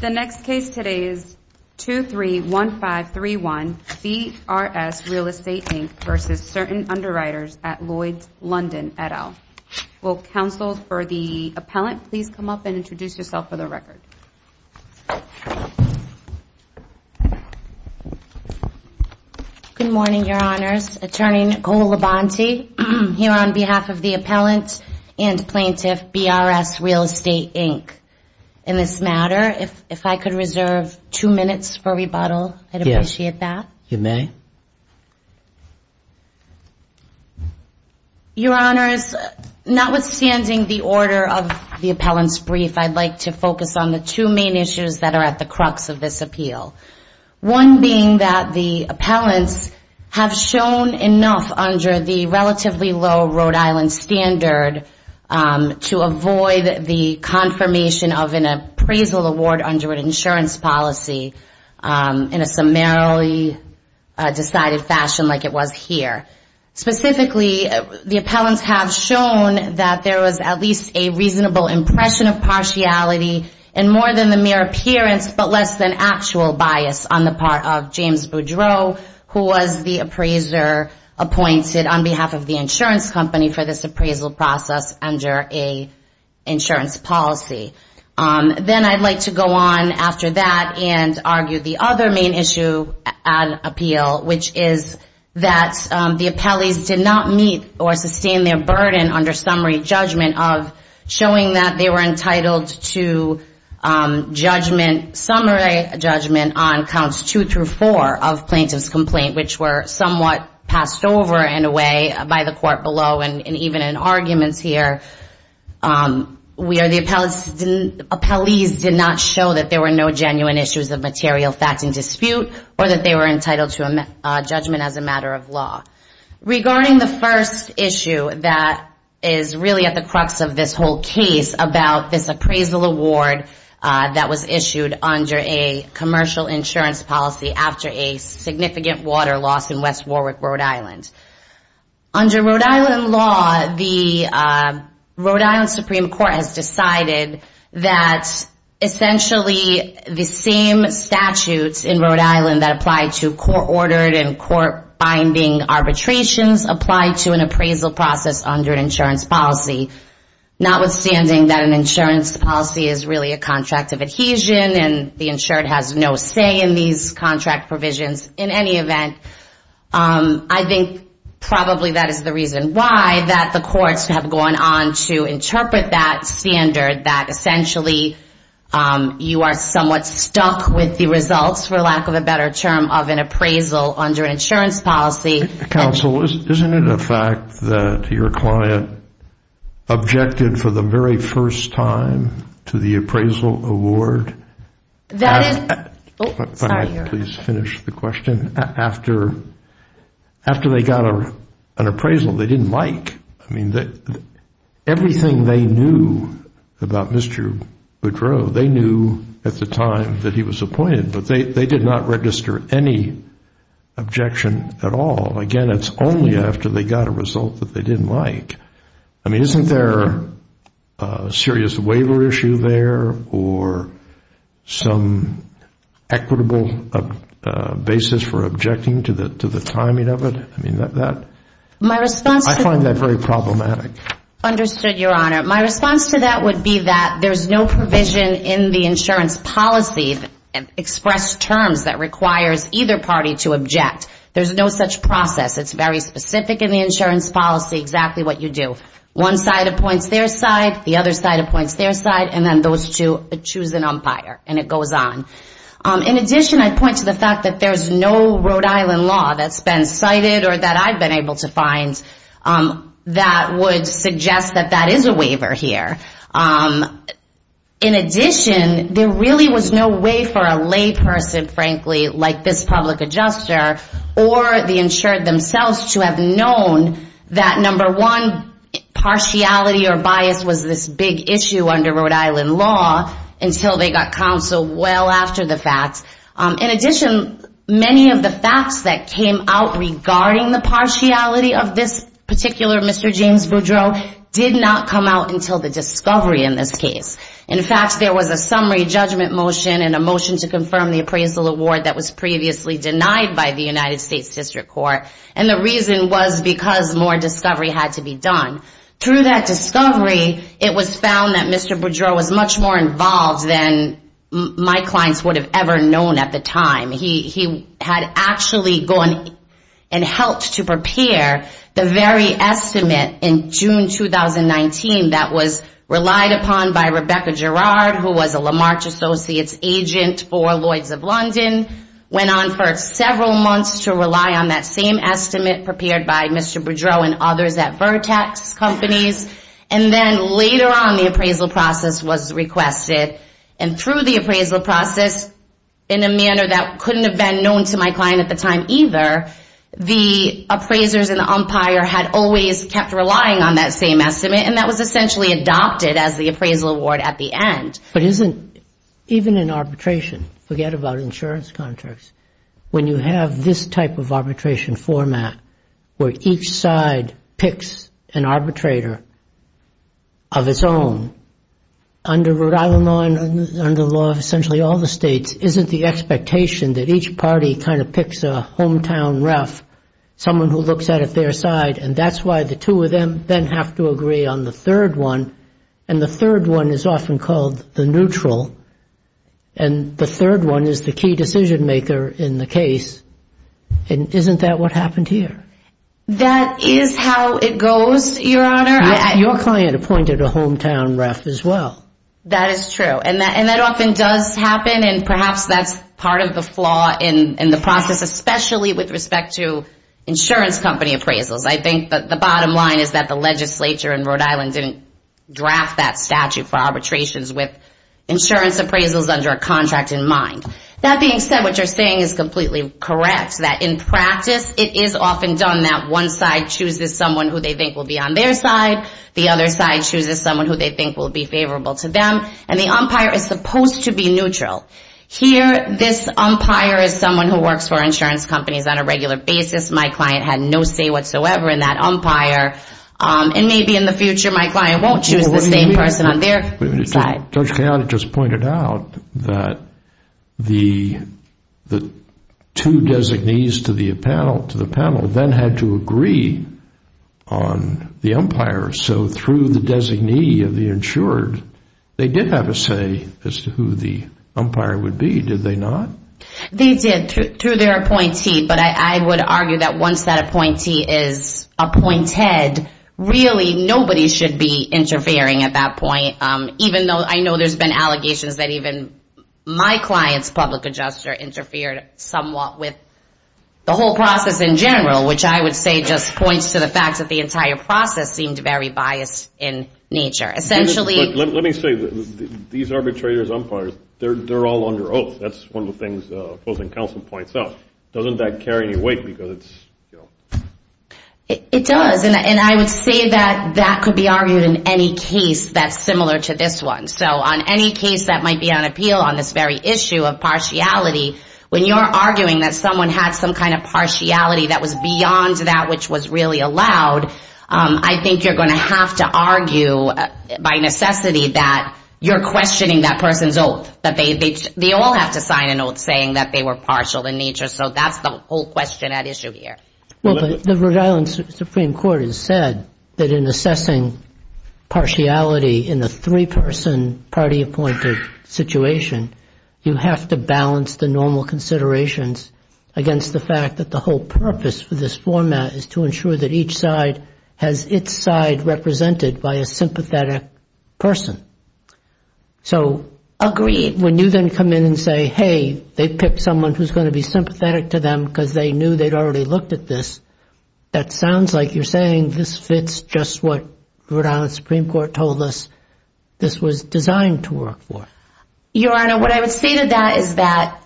The next case today is 231531. B.R.S. Real Estate, Inc. v. Certain Underwriters at Lloyd's, London, et al. Will counsel for the appellant please come up and introduce yourself for the record. Good morning, Your Honors. Attorney Nicole Labonte here on behalf of the appellant and plaintiff, B.R.S. Real Estate, Inc. in this matter. If I could reserve two minutes for rebuttal, I'd appreciate that. You may. Your Honors, notwithstanding the order of the appellant's brief, I'd like to focus on the two main issues that are at the crux of this appeal. One being that the appellants have shown enough under the relatively low Rhode Island standard to avoid the confirmation of an appraisal award under an insurance policy in a summarily decided fashion like it was here. Specifically, the appellants have shown that there was at least a reasonable impression of partiality in more than the mere appearance but less than actual bias on the part of James Boudreaux who was the appraiser appointed on behalf of the insurance company for this appraisal process under an insurance policy. Then I'd like to go on after that and argue the other main issue at appeal, which is that the appellees did not meet or sustain their burden under summary judgment of showing that they were entitled to summary judgment on counts two through four of plaintiff's complaint, which were somewhat passed over in a way by the court below and even in arguments here, where the appellees did not show that there were no genuine issues of material facts in dispute or that they were entitled to judgment as a matter of law. Regarding the first issue that is really at the crux of this whole case about this appraisal award that was issued under a commercial insurance policy after a significant water loss in West Warwick, Rhode Island. Under Rhode Island law, the Rhode Island Supreme Court has decided that essentially the same statutes in Rhode Island that apply to court-ordered and court-binding arbitrations apply to an appraisal process under an insurance policy. Notwithstanding that an insurance policy is really a contract of adhesion and the insured has no say in these contract provisions, in any event, I think probably that is the reason why that the courts have gone on to interpret that standard, that essentially you are somewhat stuck with the results, for lack of a better term, of an appraisal under an insurance policy. Counsel, isn't it a fact that your client objected for the very first time to the appraisal award? That is... Can I please finish the question? After they got an appraisal they didn't like. Everything they knew about Mr. Boudreau, they knew at the time that he was appointed, but they did not register any objection at all. Again, it is only after they got a result that they didn't like. Isn't there a serious waiver issue there or some equitable basis for objecting to the timing of it? I find that very problematic. Understood, Your Honor. My response to that would be that there is no provision in the insurance policy, and express terms that requires either party to object. There is no such process. It is very specific in the insurance policy, exactly what you do. One side appoints their side, the other side appoints their side, and then those two choose an umpire and it goes on. In addition, I point to the fact that there is no Rhode Island law that has been cited or that I have been able to find that would suggest that that is a waiver here. In addition, there really was no way for a layperson, frankly, like this public adjuster, or the insured themselves to have known that, number one, partiality or bias was this big issue under Rhode Island law until they got counsel well after the facts. In addition, many of the facts that came out regarding the partiality of this particular Mr. James Boudreau did not come out until the decision. In fact, there was a summary judgment motion and a motion to confirm the appraisal award that was previously denied by the United States District Court. And the reason was because more discovery had to be done. Through that discovery, it was found that Mr. Boudreau was much more involved than my clients would have ever known at the time. He had actually gone and helped to prepare the very estimate in June 2019 that was referred to the district court. It was relied upon by Rebecca Gerard, who was a Lamarch Associates agent for Lloyds of London. Went on for several months to rely on that same estimate prepared by Mr. Boudreau and others at Vertax Companies. And then later on, the appraisal process was requested. And through the appraisal process, in a manner that couldn't have been known to my client at the time either, the appraisers and the umpire had always kept relying on that same estimate. And that was essentially adopted as the appraisal award at the end. But isn't even in arbitration, forget about insurance contracts, when you have this type of arbitration format where each side picks an arbitrator of its own, under Rhode Island law and under the law of essentially all the states, isn't the expectation that each party kind of picks a hometown ref, someone who looks at it their side, and that's why the two of them then have to agree on the third one. And the third one is often called the neutral. And the third one is the key decision maker in the case. And isn't that what happened here? That is how it goes, Your Honor. Your client appointed a hometown ref as well. That is true. And that often does happen, and perhaps that's part of the flaw in the process, especially with respect to insurance company appraisals. I think the bottom line is that the legislature in Rhode Island didn't draft that statute for arbitrations with insurance appraisals under a contract in mind. That being said, what you're saying is completely correct, that in practice it is often done that one side chooses someone who they think will be on their side, the other side chooses someone who they think will be favorable to them, and the umpire is supposed to be neutral. Here this umpire is someone who works for insurance companies on a regular basis. My client had no say whatsoever in that umpire, and maybe in the future my client won't choose the same person on their side. Judge Kayani just pointed out that the two designees to the panel then had to agree on the umpire's side. So through the designee of the insured, they did have a say as to who the umpire would be, did they not? They did, through their appointee, but I would argue that once that appointee is appointed, really nobody should be interfering at that point. Even though I know there's been allegations that even my client's public adjuster interfered somewhat with the whole process in general, which I would say just points to the fact that the entire process seemed very biased in nature. Let me say, these arbitrators, umpires, they're all under oath. That's one of the things opposing counsel points out. Doesn't that carry any weight? It does, and I would say that that could be argued in any case that's similar to this one. So on any case that might be on appeal on this very issue of partiality, when you're arguing that someone had some kind of partiality that was beyond that which was really allowed, I think you're going to have to argue by necessity that you're questioning that person's oath. They all have to sign an oath saying that they were partial in nature. So that's the whole question at issue here. Well, the Rhode Island Supreme Court has said that in assessing partiality in a three-person party-appointed situation, you have to balance the normal considerations against the fact that the whole purpose for this format is to ensure that each side has its side represented by a sympathetic person. So when you then come in and say, hey, they picked someone who's going to be sympathetic to them because they knew they'd already looked at them, that sounds like you're saying this fits just what Rhode Island Supreme Court told us this was designed to work for. Your Honor, what I would say to that is that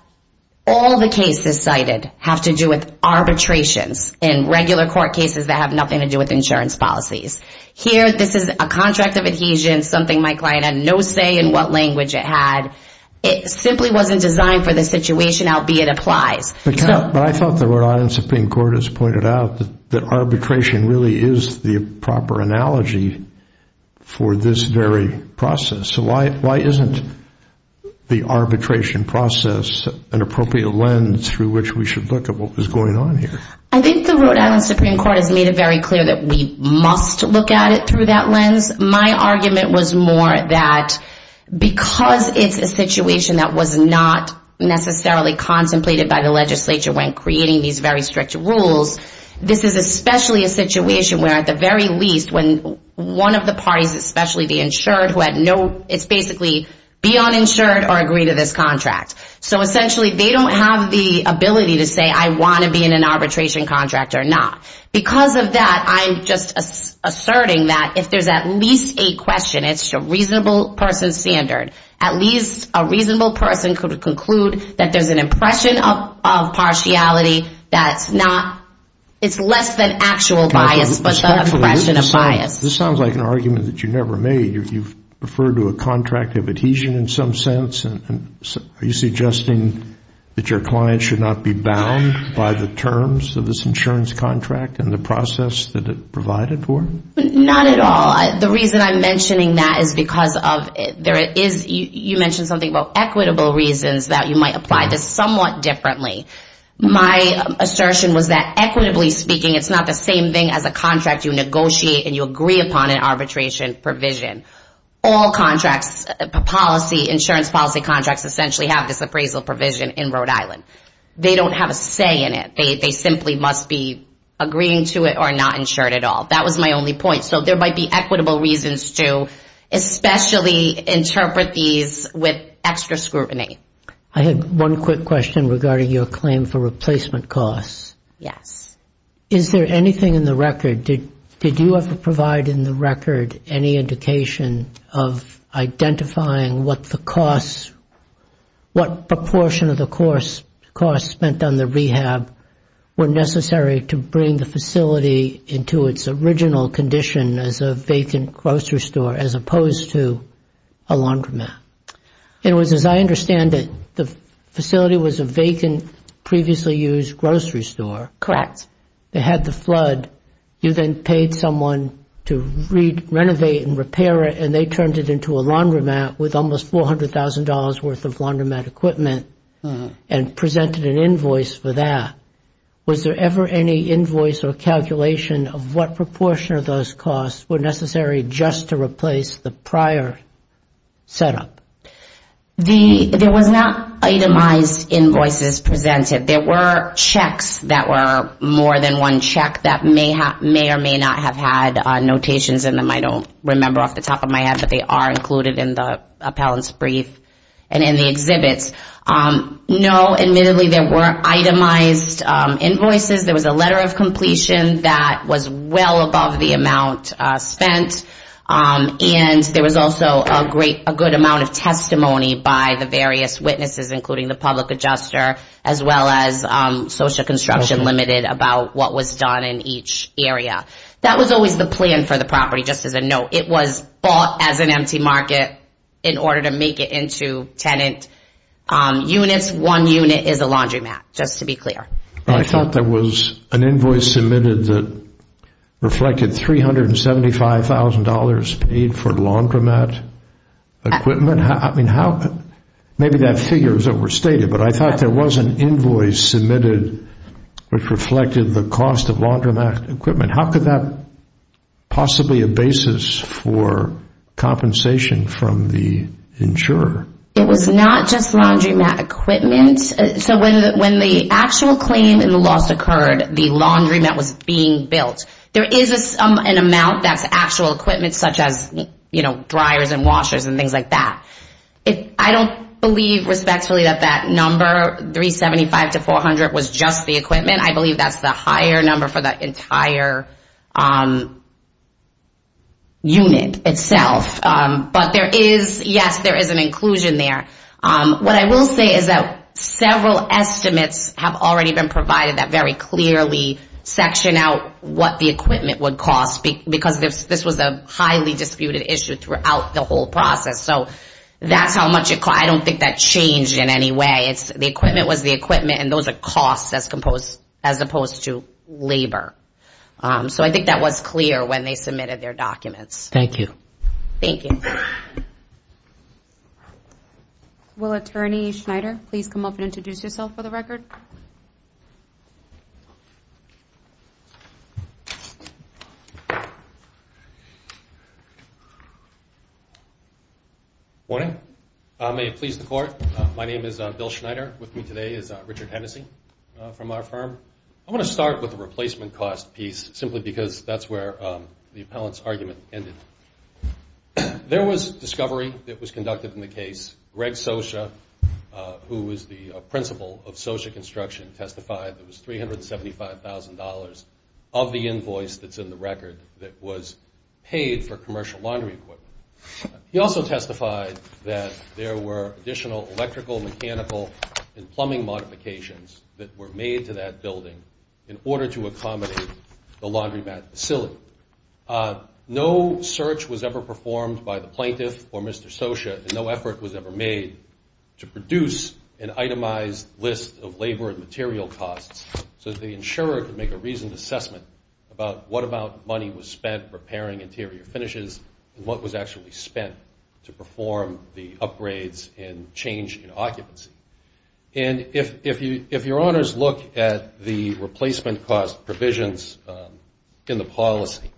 all the cases cited have to do with arbitrations in regular court cases that have nothing to do with insurance policies. Here, this is a contract of adhesion, something my client had no say in what language it had. It simply wasn't designed for the situation, albeit it applies. But I thought the Rhode Island Supreme Court has pointed out that arbitration really is the proper analogy for this very process. So why isn't the arbitration process an appropriate lens through which we should look at what was going on here? I think the Rhode Island Supreme Court has made it very clear that we must look at it through that lens. My argument was more that because it's a situation that was not necessarily contemplated by the legislature when creating these very strict rules, this is especially a situation where at the very least when one of the parties, especially the insured, it's basically be uninsured or agree to this contract. So essentially they don't have the ability to say I want to be in an arbitration contract or not. Because of that, I'm just asserting that if there's at least a question, it's a reasonable person's standard, at least a reasonable person could conclude that there's an impression of partiality that's not, it's less than actual bias but the impression of bias. This sounds like an argument that you never made. You've referred to a contract of adhesion in some sense. Are you suggesting that your client should not be bound by the terms of this insurance contract and the process that it provided for? Not at all. The reason I'm mentioning that is because of there is, you mentioned something about equitable reasons that you might apply this somewhat differently. My assertion was that equitably speaking it's not the same thing as a contract you negotiate and you agree upon an arbitration provision. All insurance policy contracts essentially have this appraisal provision in Rhode Island. They don't have a say in it. They simply must be agreeing to it or not insured at all. That was my only point. So there might be equitable reasons to especially interpret these with extra scrutiny. I have one quick question regarding your claim for replacement costs. Yes. Is there anything in the record, did you ever provide in the record any indication of identifying what the costs, what proportion of the costs spent on the rehab were necessary to bring the facility into its original condition as a vacant grocery store as opposed to a laundromat? It was, as I understand it, the facility was a vacant previously used grocery store. Correct. They had the flood. You then paid someone to renovate and repair it and they turned it into a laundromat with almost $400,000 worth of laundromat equipment and presented an invoice for that. Was there ever any invoice or calculation of what proportion of those costs were necessary just to replace the prior setup? There was not itemized invoices presented. There were checks that were more than one check that may or may not have had notations in them. I don't remember off the top of my head, but they are included in the appellant's brief and in the exhibits. No, admittedly there were itemized invoices. There was a letter of completion that was well above the amount spent. There was also a good amount of testimony by the various witnesses including the public adjuster as well as Social Construction Limited about what was done in each area. That was always the plan for the property, just as a note. It was bought as an empty market in order to make it into tenant units. This one unit is a laundromat, just to be clear. I thought there was an invoice submitted that reflected $375,000 paid for laundromat equipment. Maybe that figure is overstated, but I thought there was an invoice submitted which reflected the cost of laundromat equipment. How could that possibly be a basis for compensation from the insurer? It was not just laundromat equipment. When the actual claim and the loss occurred, the laundromat was being built. There is an amount that's actual equipment such as dryers and washers and things like that. I don't believe respectfully that that number, $375,000 to $400,000 was just the equipment. I believe that's the higher number for the entire unit itself. But yes, there is an inclusion there. What I will say is that several estimates have already been provided that very clearly section out what the equipment would cost. This was a highly disputed issue throughout the whole process. That's how much it cost. I don't think that changed in any way. The equipment was the equipment and those are costs as opposed to labor. I think that was clear when they submitted their documents. Thank you. Good morning. May it please the court. My name is Bill Schneider. With me today is Richard Hennessey from our firm. I want to start with the replacement cost piece simply because that's where the appellant's argument ended. There was discovery that was conducted in the case. Greg Socha, who is the principal of Socha Construction, testified that it was $375,000 of the invoice that's in the record that was paid for commercial laundry equipment. He also testified that there were additional electrical, mechanical, and plumbing modifications that were made to that building in order to accommodate the laundromat facility. No search was ever performed by the plaintiff or Mr. Socha and no effort was ever made to produce an itemized list of labor and material costs so that the insurer could make a reasoned assessment about what amount of money was spent repairing interior finishes and what was actually spent to perform the upgrades and change in occupancy. And if your honors look at the replacement cost provisions in the policy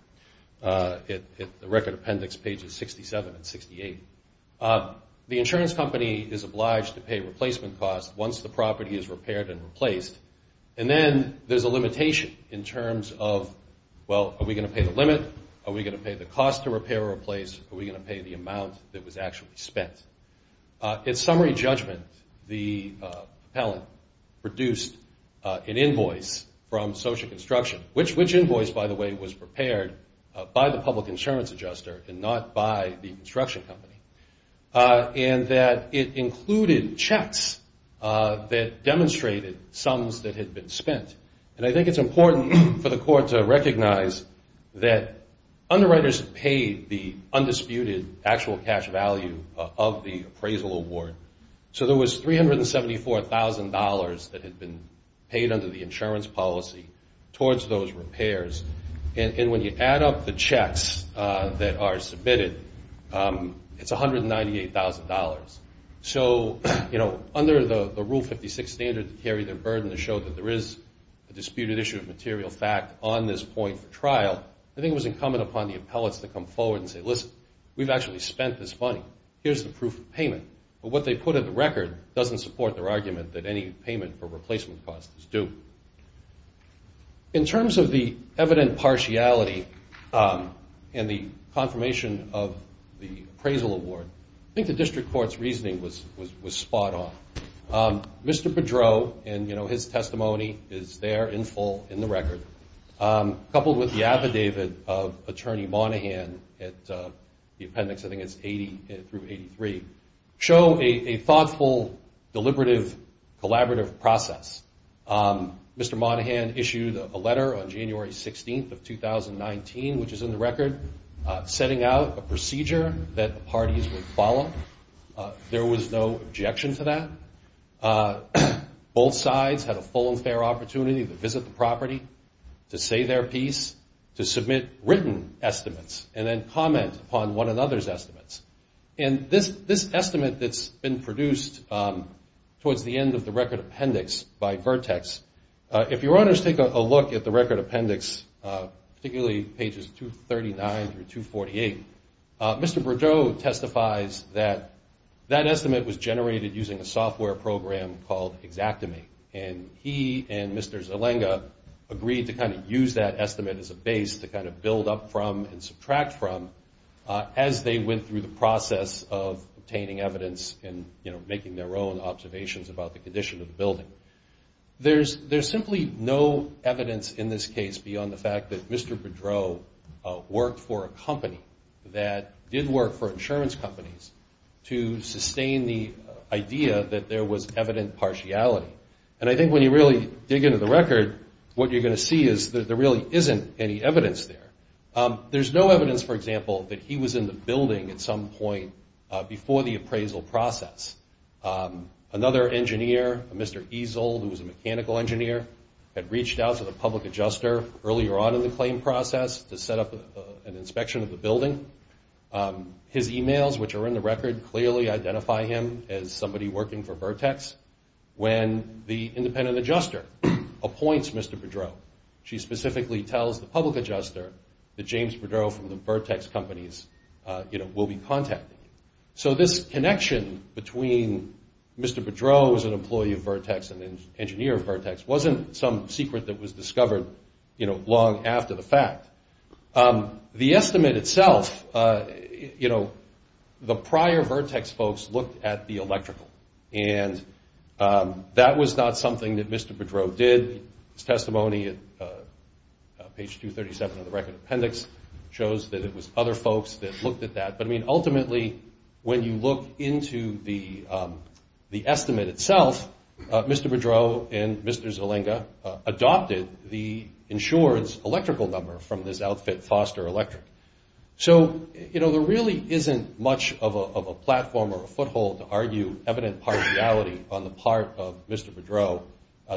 at the record appendix pages 67 and 68, the insurance company is obliged to pay replacement costs once the property is repaired and replaced. And then there's a limitation in terms of, well, are we going to pay the limit? Are we going to pay the cost to repair or replace? Are we going to pay the amount that was actually spent? In summary judgment, the appellant produced an invoice from Socha Construction, which invoice, by the way, was prepared by the public insurance adjuster and not by the construction company, and that it included checks that demonstrated sums that had been spent. And I think it's important for the court to recognize that underwriters paid the undisputed actual cash value of the appraisal award. So there was $374,000 that had been paid under the insurance policy towards those repairs. And when you add up the checks that are submitted, it's $198,000. So under the Rule 56 standard to carry the burden to show that there is a disputed issue of material fact on this point for trial, I think it was incumbent upon the appellants to come forward and say, listen, we've actually spent this money. Here's the proof of payment. But what they put at the record doesn't support their argument that any payment for replacement costs is due. In terms of the evident partiality in the confirmation of the appraisal award, I think the district court's reasoning was spot on. Mr. Pedro and his testimony is there in full in the record, coupled with the affidavit of Attorney Monahan at the appendix, I think it's 80 through 83, show a thoughtful, deliberative, collaborative process. Mr. Monahan issued a letter on January 16th of 2019, which is in the record, setting out a procedure that the parties would follow. There was no objection to that. Both sides had a full and fair opportunity to visit the property, to say their piece, to submit written estimates, and this estimate that's been produced towards the end of the record appendix by Vertex, if your honors take a look at the record appendix, particularly pages 239 through 248, Mr. Pedro testifies that that estimate was generated using a software program called Xactimate, and he and Mr. Zalenga agreed to kind of use that estimate as a base to kind of build up from and subtract from as they went through the process of obtaining evidence and making their own observations about the condition of the building. There's simply no evidence in this case beyond the fact that Mr. Pedro worked for a company that did work for insurance companies to sustain the idea that there was evident partiality. And I think when you really dig into the record, what you're going to see is that there really isn't any evidence there. There's no evidence, for example, that he was in the building at some point before the appraisal process. Another engineer, Mr. Ezel, who was a mechanical engineer, had reached out to the public adjuster earlier on in the claim process to set up an inspection of the building. His emails, which are in the record, clearly identify him as somebody working for Vertex. When the independent adjuster appoints Mr. Pedro, she specifically tells the public adjuster that James Pedro from the Vertex companies will be contacting him. So this connection between Mr. Pedro as an employee of Vertex and an engineer of Vertex wasn't some secret that was discovered long after the fact. The estimate itself, you know, the prior Vertex folks looked at the electrical, and that was not something that Mr. Pedro did. His testimony at page 237 of the record appendix shows that it was other folks that looked at that. But, I mean, ultimately, when you look into the estimate itself, Mr. Pedro and Mr. Zelenga adopted the insurance electrical number from this outfit, Foster Electric. So, you know, there really isn't much of a platform or a foothold to argue evident partiality on the part of Mr. Pedro.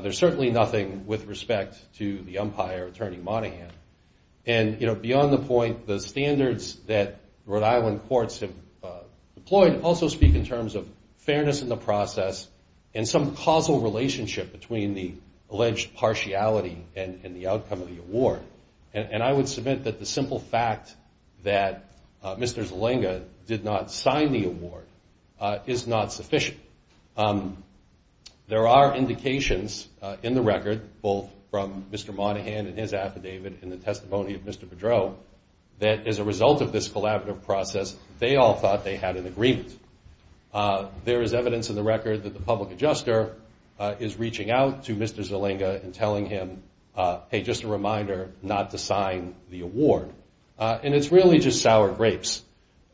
There's certainly nothing with respect to the umpire, Attorney Monahan. And, you know, beyond the point, the standards that Rhode Island courts have deployed also speak in terms of fairness in the process and some causal relationship between the alleged partiality and the outcome of the award. And I would submit that the simple fact that Mr. Zelenga did not sign the award is not sufficient. There are indications in the record, both from Mr. Monahan and his affidavit and the testimony of Mr. Pedro, that as a result of this collaborative process, they all thought they had an agreement. There is evidence in the record that the public adjuster is reaching out to Mr. Zelenga and telling him, hey, just a reminder not to sign the award. And it's really just sour grapes.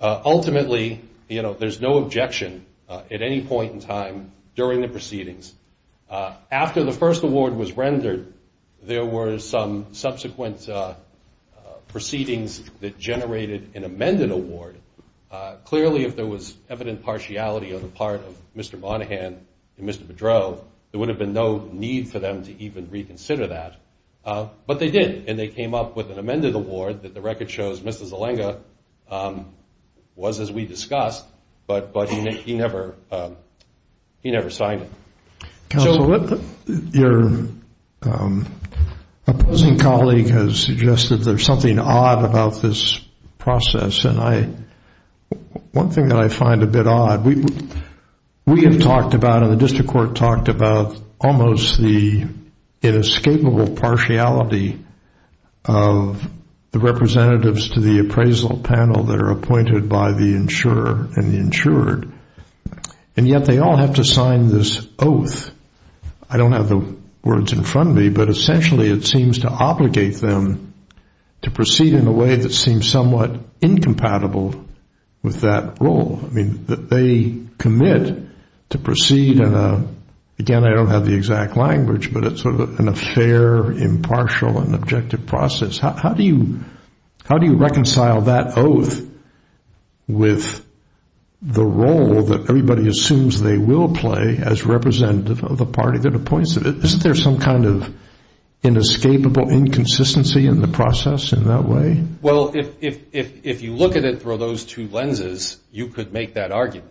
Ultimately, you know, there's no objection at any point in time during the proceedings. After the first award was rendered, there were some subsequent proceedings that generated an amended award. Clearly, if there was evident partiality on the part of Mr. Monahan and Mr. Pedro, there would have been no need for them to even reconsider that. But they did, and they came up with an amended award that the record shows Mr. Zelenga was, as we discussed, but he never signed it. Counsel, your opposing colleague has suggested there's something odd about this process. And one thing that I find a bit odd, we have talked about it, the partiality of the representatives to the appraisal panel that are appointed by the insurer and the insured, and yet they all have to sign this oath. I don't have the words in front of me, but essentially it seems to obligate them to proceed in a way that seems somewhat incompatible with that role. I mean, they commit to proceed in a, again, I don't have the exact language, but it's sort of an affair, impartial and objective process. How do you reconcile that oath with the role that everybody assumes they will play as representative of the party that appoints it? Isn't there some kind of inescapable inconsistency in the process in that way? Well, if you look at it through those two lenses, you could make that argument.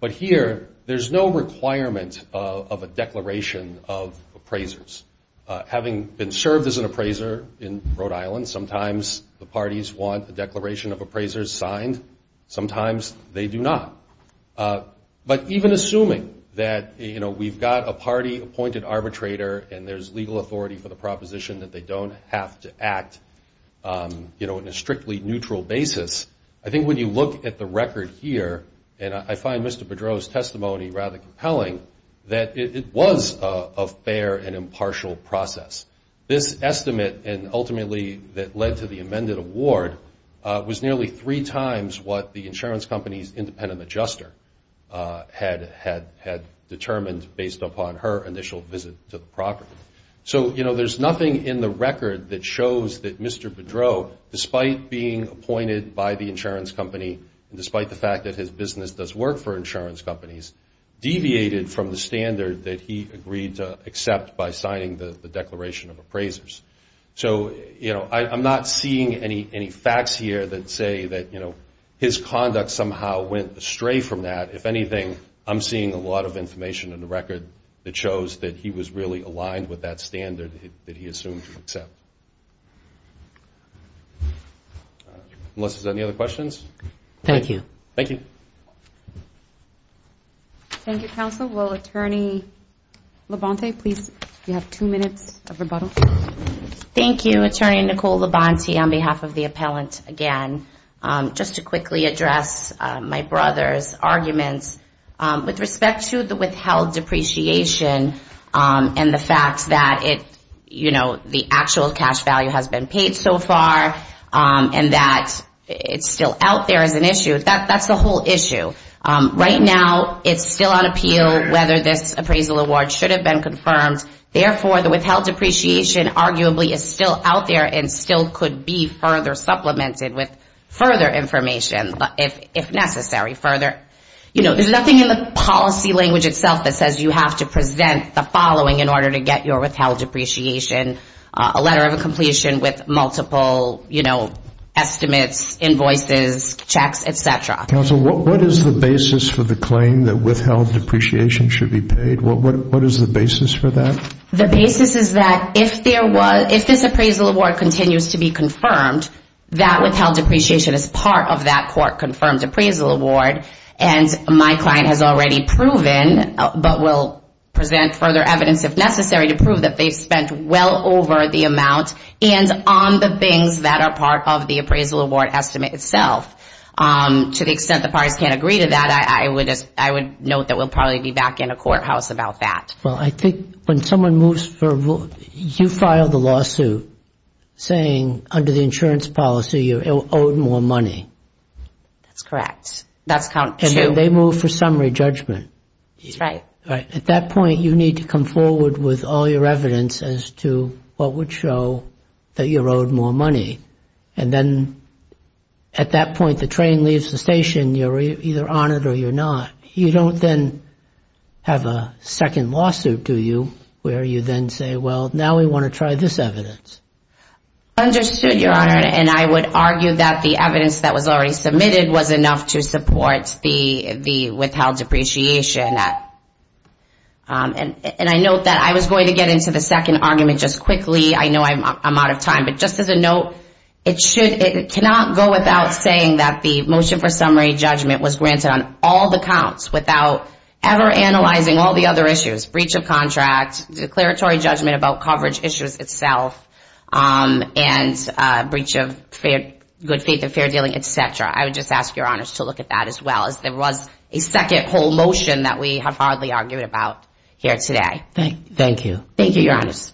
But here, there's no requirement of a declaration of appraisers. Having been served as an appraiser in Rhode Island, sometimes the parties want a declaration of appraisers signed. Sometimes they do not. But even assuming that, you know, we've got a party appointed arbitrator and there's legal authority for the proposition that they don't have to act, you know, in a strictly neutral basis, I think when you look at the record here, and I find Mr. Bedreau's testimony rather compelling, that it was a fair and impartial process. This estimate, and ultimately that led to the amended award, was nearly three times what the insurance company's independent adjuster had determined based upon her initial visit to the property. So, you know, there's nothing in the record that shows that Mr. Bedreau, despite being appointed by the insurance company and despite the fact that his business does work for insurance companies, deviated from the standard that he agreed to accept by signing the declaration of appraisers. So, you know, I'm not seeing any facts here that say that, you know, his conduct somehow went astray from that. If anything, I'm seeing a lot of information in the record that shows that he was really aligned with that standard that he assumed to accept. Unless there's any other questions. Thank you. Thank you. Thank you, counsel. Will Attorney Labonte, please, if you have two minutes of rebuttal. Thank you, Attorney Nicole Labonte, on behalf of the appellant again. Just to quickly address my brother's arguments with respect to the withheld depreciation and the fact that, you know, the actual cash value has been paid so far and that it's still out there as an issue, that's the whole issue. Right now, it's still on appeal whether this appraisal award should have been confirmed. Therefore, the withheld depreciation arguably is still out there and still could be further supplemented with further information, if necessary. You know, there's nothing in the policy language itself that says you have to present the following in order to get your withheld depreciation. A letter of completion with multiple, you know, estimates, invoices, checks, etc. Counsel, what is the basis for the claim that withheld depreciation should be paid? What is the basis for that? The basis is that if this appraisal award continues to be confirmed, that withheld depreciation is part of that court-confirmed appraisal award. And my client has already proven, but will present further evidence if necessary, to prove that they've spent well over $100,000 for the amount and on the things that are part of the appraisal award estimate itself. To the extent the parties can't agree to that, I would note that we'll probably be back in a courthouse about that. Well, I think when someone moves for a vote, you file the lawsuit saying under the insurance policy you're owed more money. That's correct. That's count two. And then they move for summary judgment. That's right. At that point, you need to come forward with all your evidence as to what would show that you're owed more money. And then at that point, the train leaves the station. You're either on it or you're not. You don't then have a second lawsuit, do you, where you then say, well, now we want to try this evidence. Understood, Your Honor. And I would argue that the evidence that was already submitted was enough to support the withheld depreciation. And I note that I was going to get into the second argument just quickly. I know I'm out of time. But just as a note, it cannot go without saying that the motion for summary judgment was granted on all the counts without ever analyzing all the other issues, breach of contract, declaratory judgment about coverage issues itself, and breach of good faith and fair dealing, et cetera. I would just ask Your Honors to look at that as well, as there was a second whole motion that we have hardly argued about here today. Thank you. Thank you, Your Honors.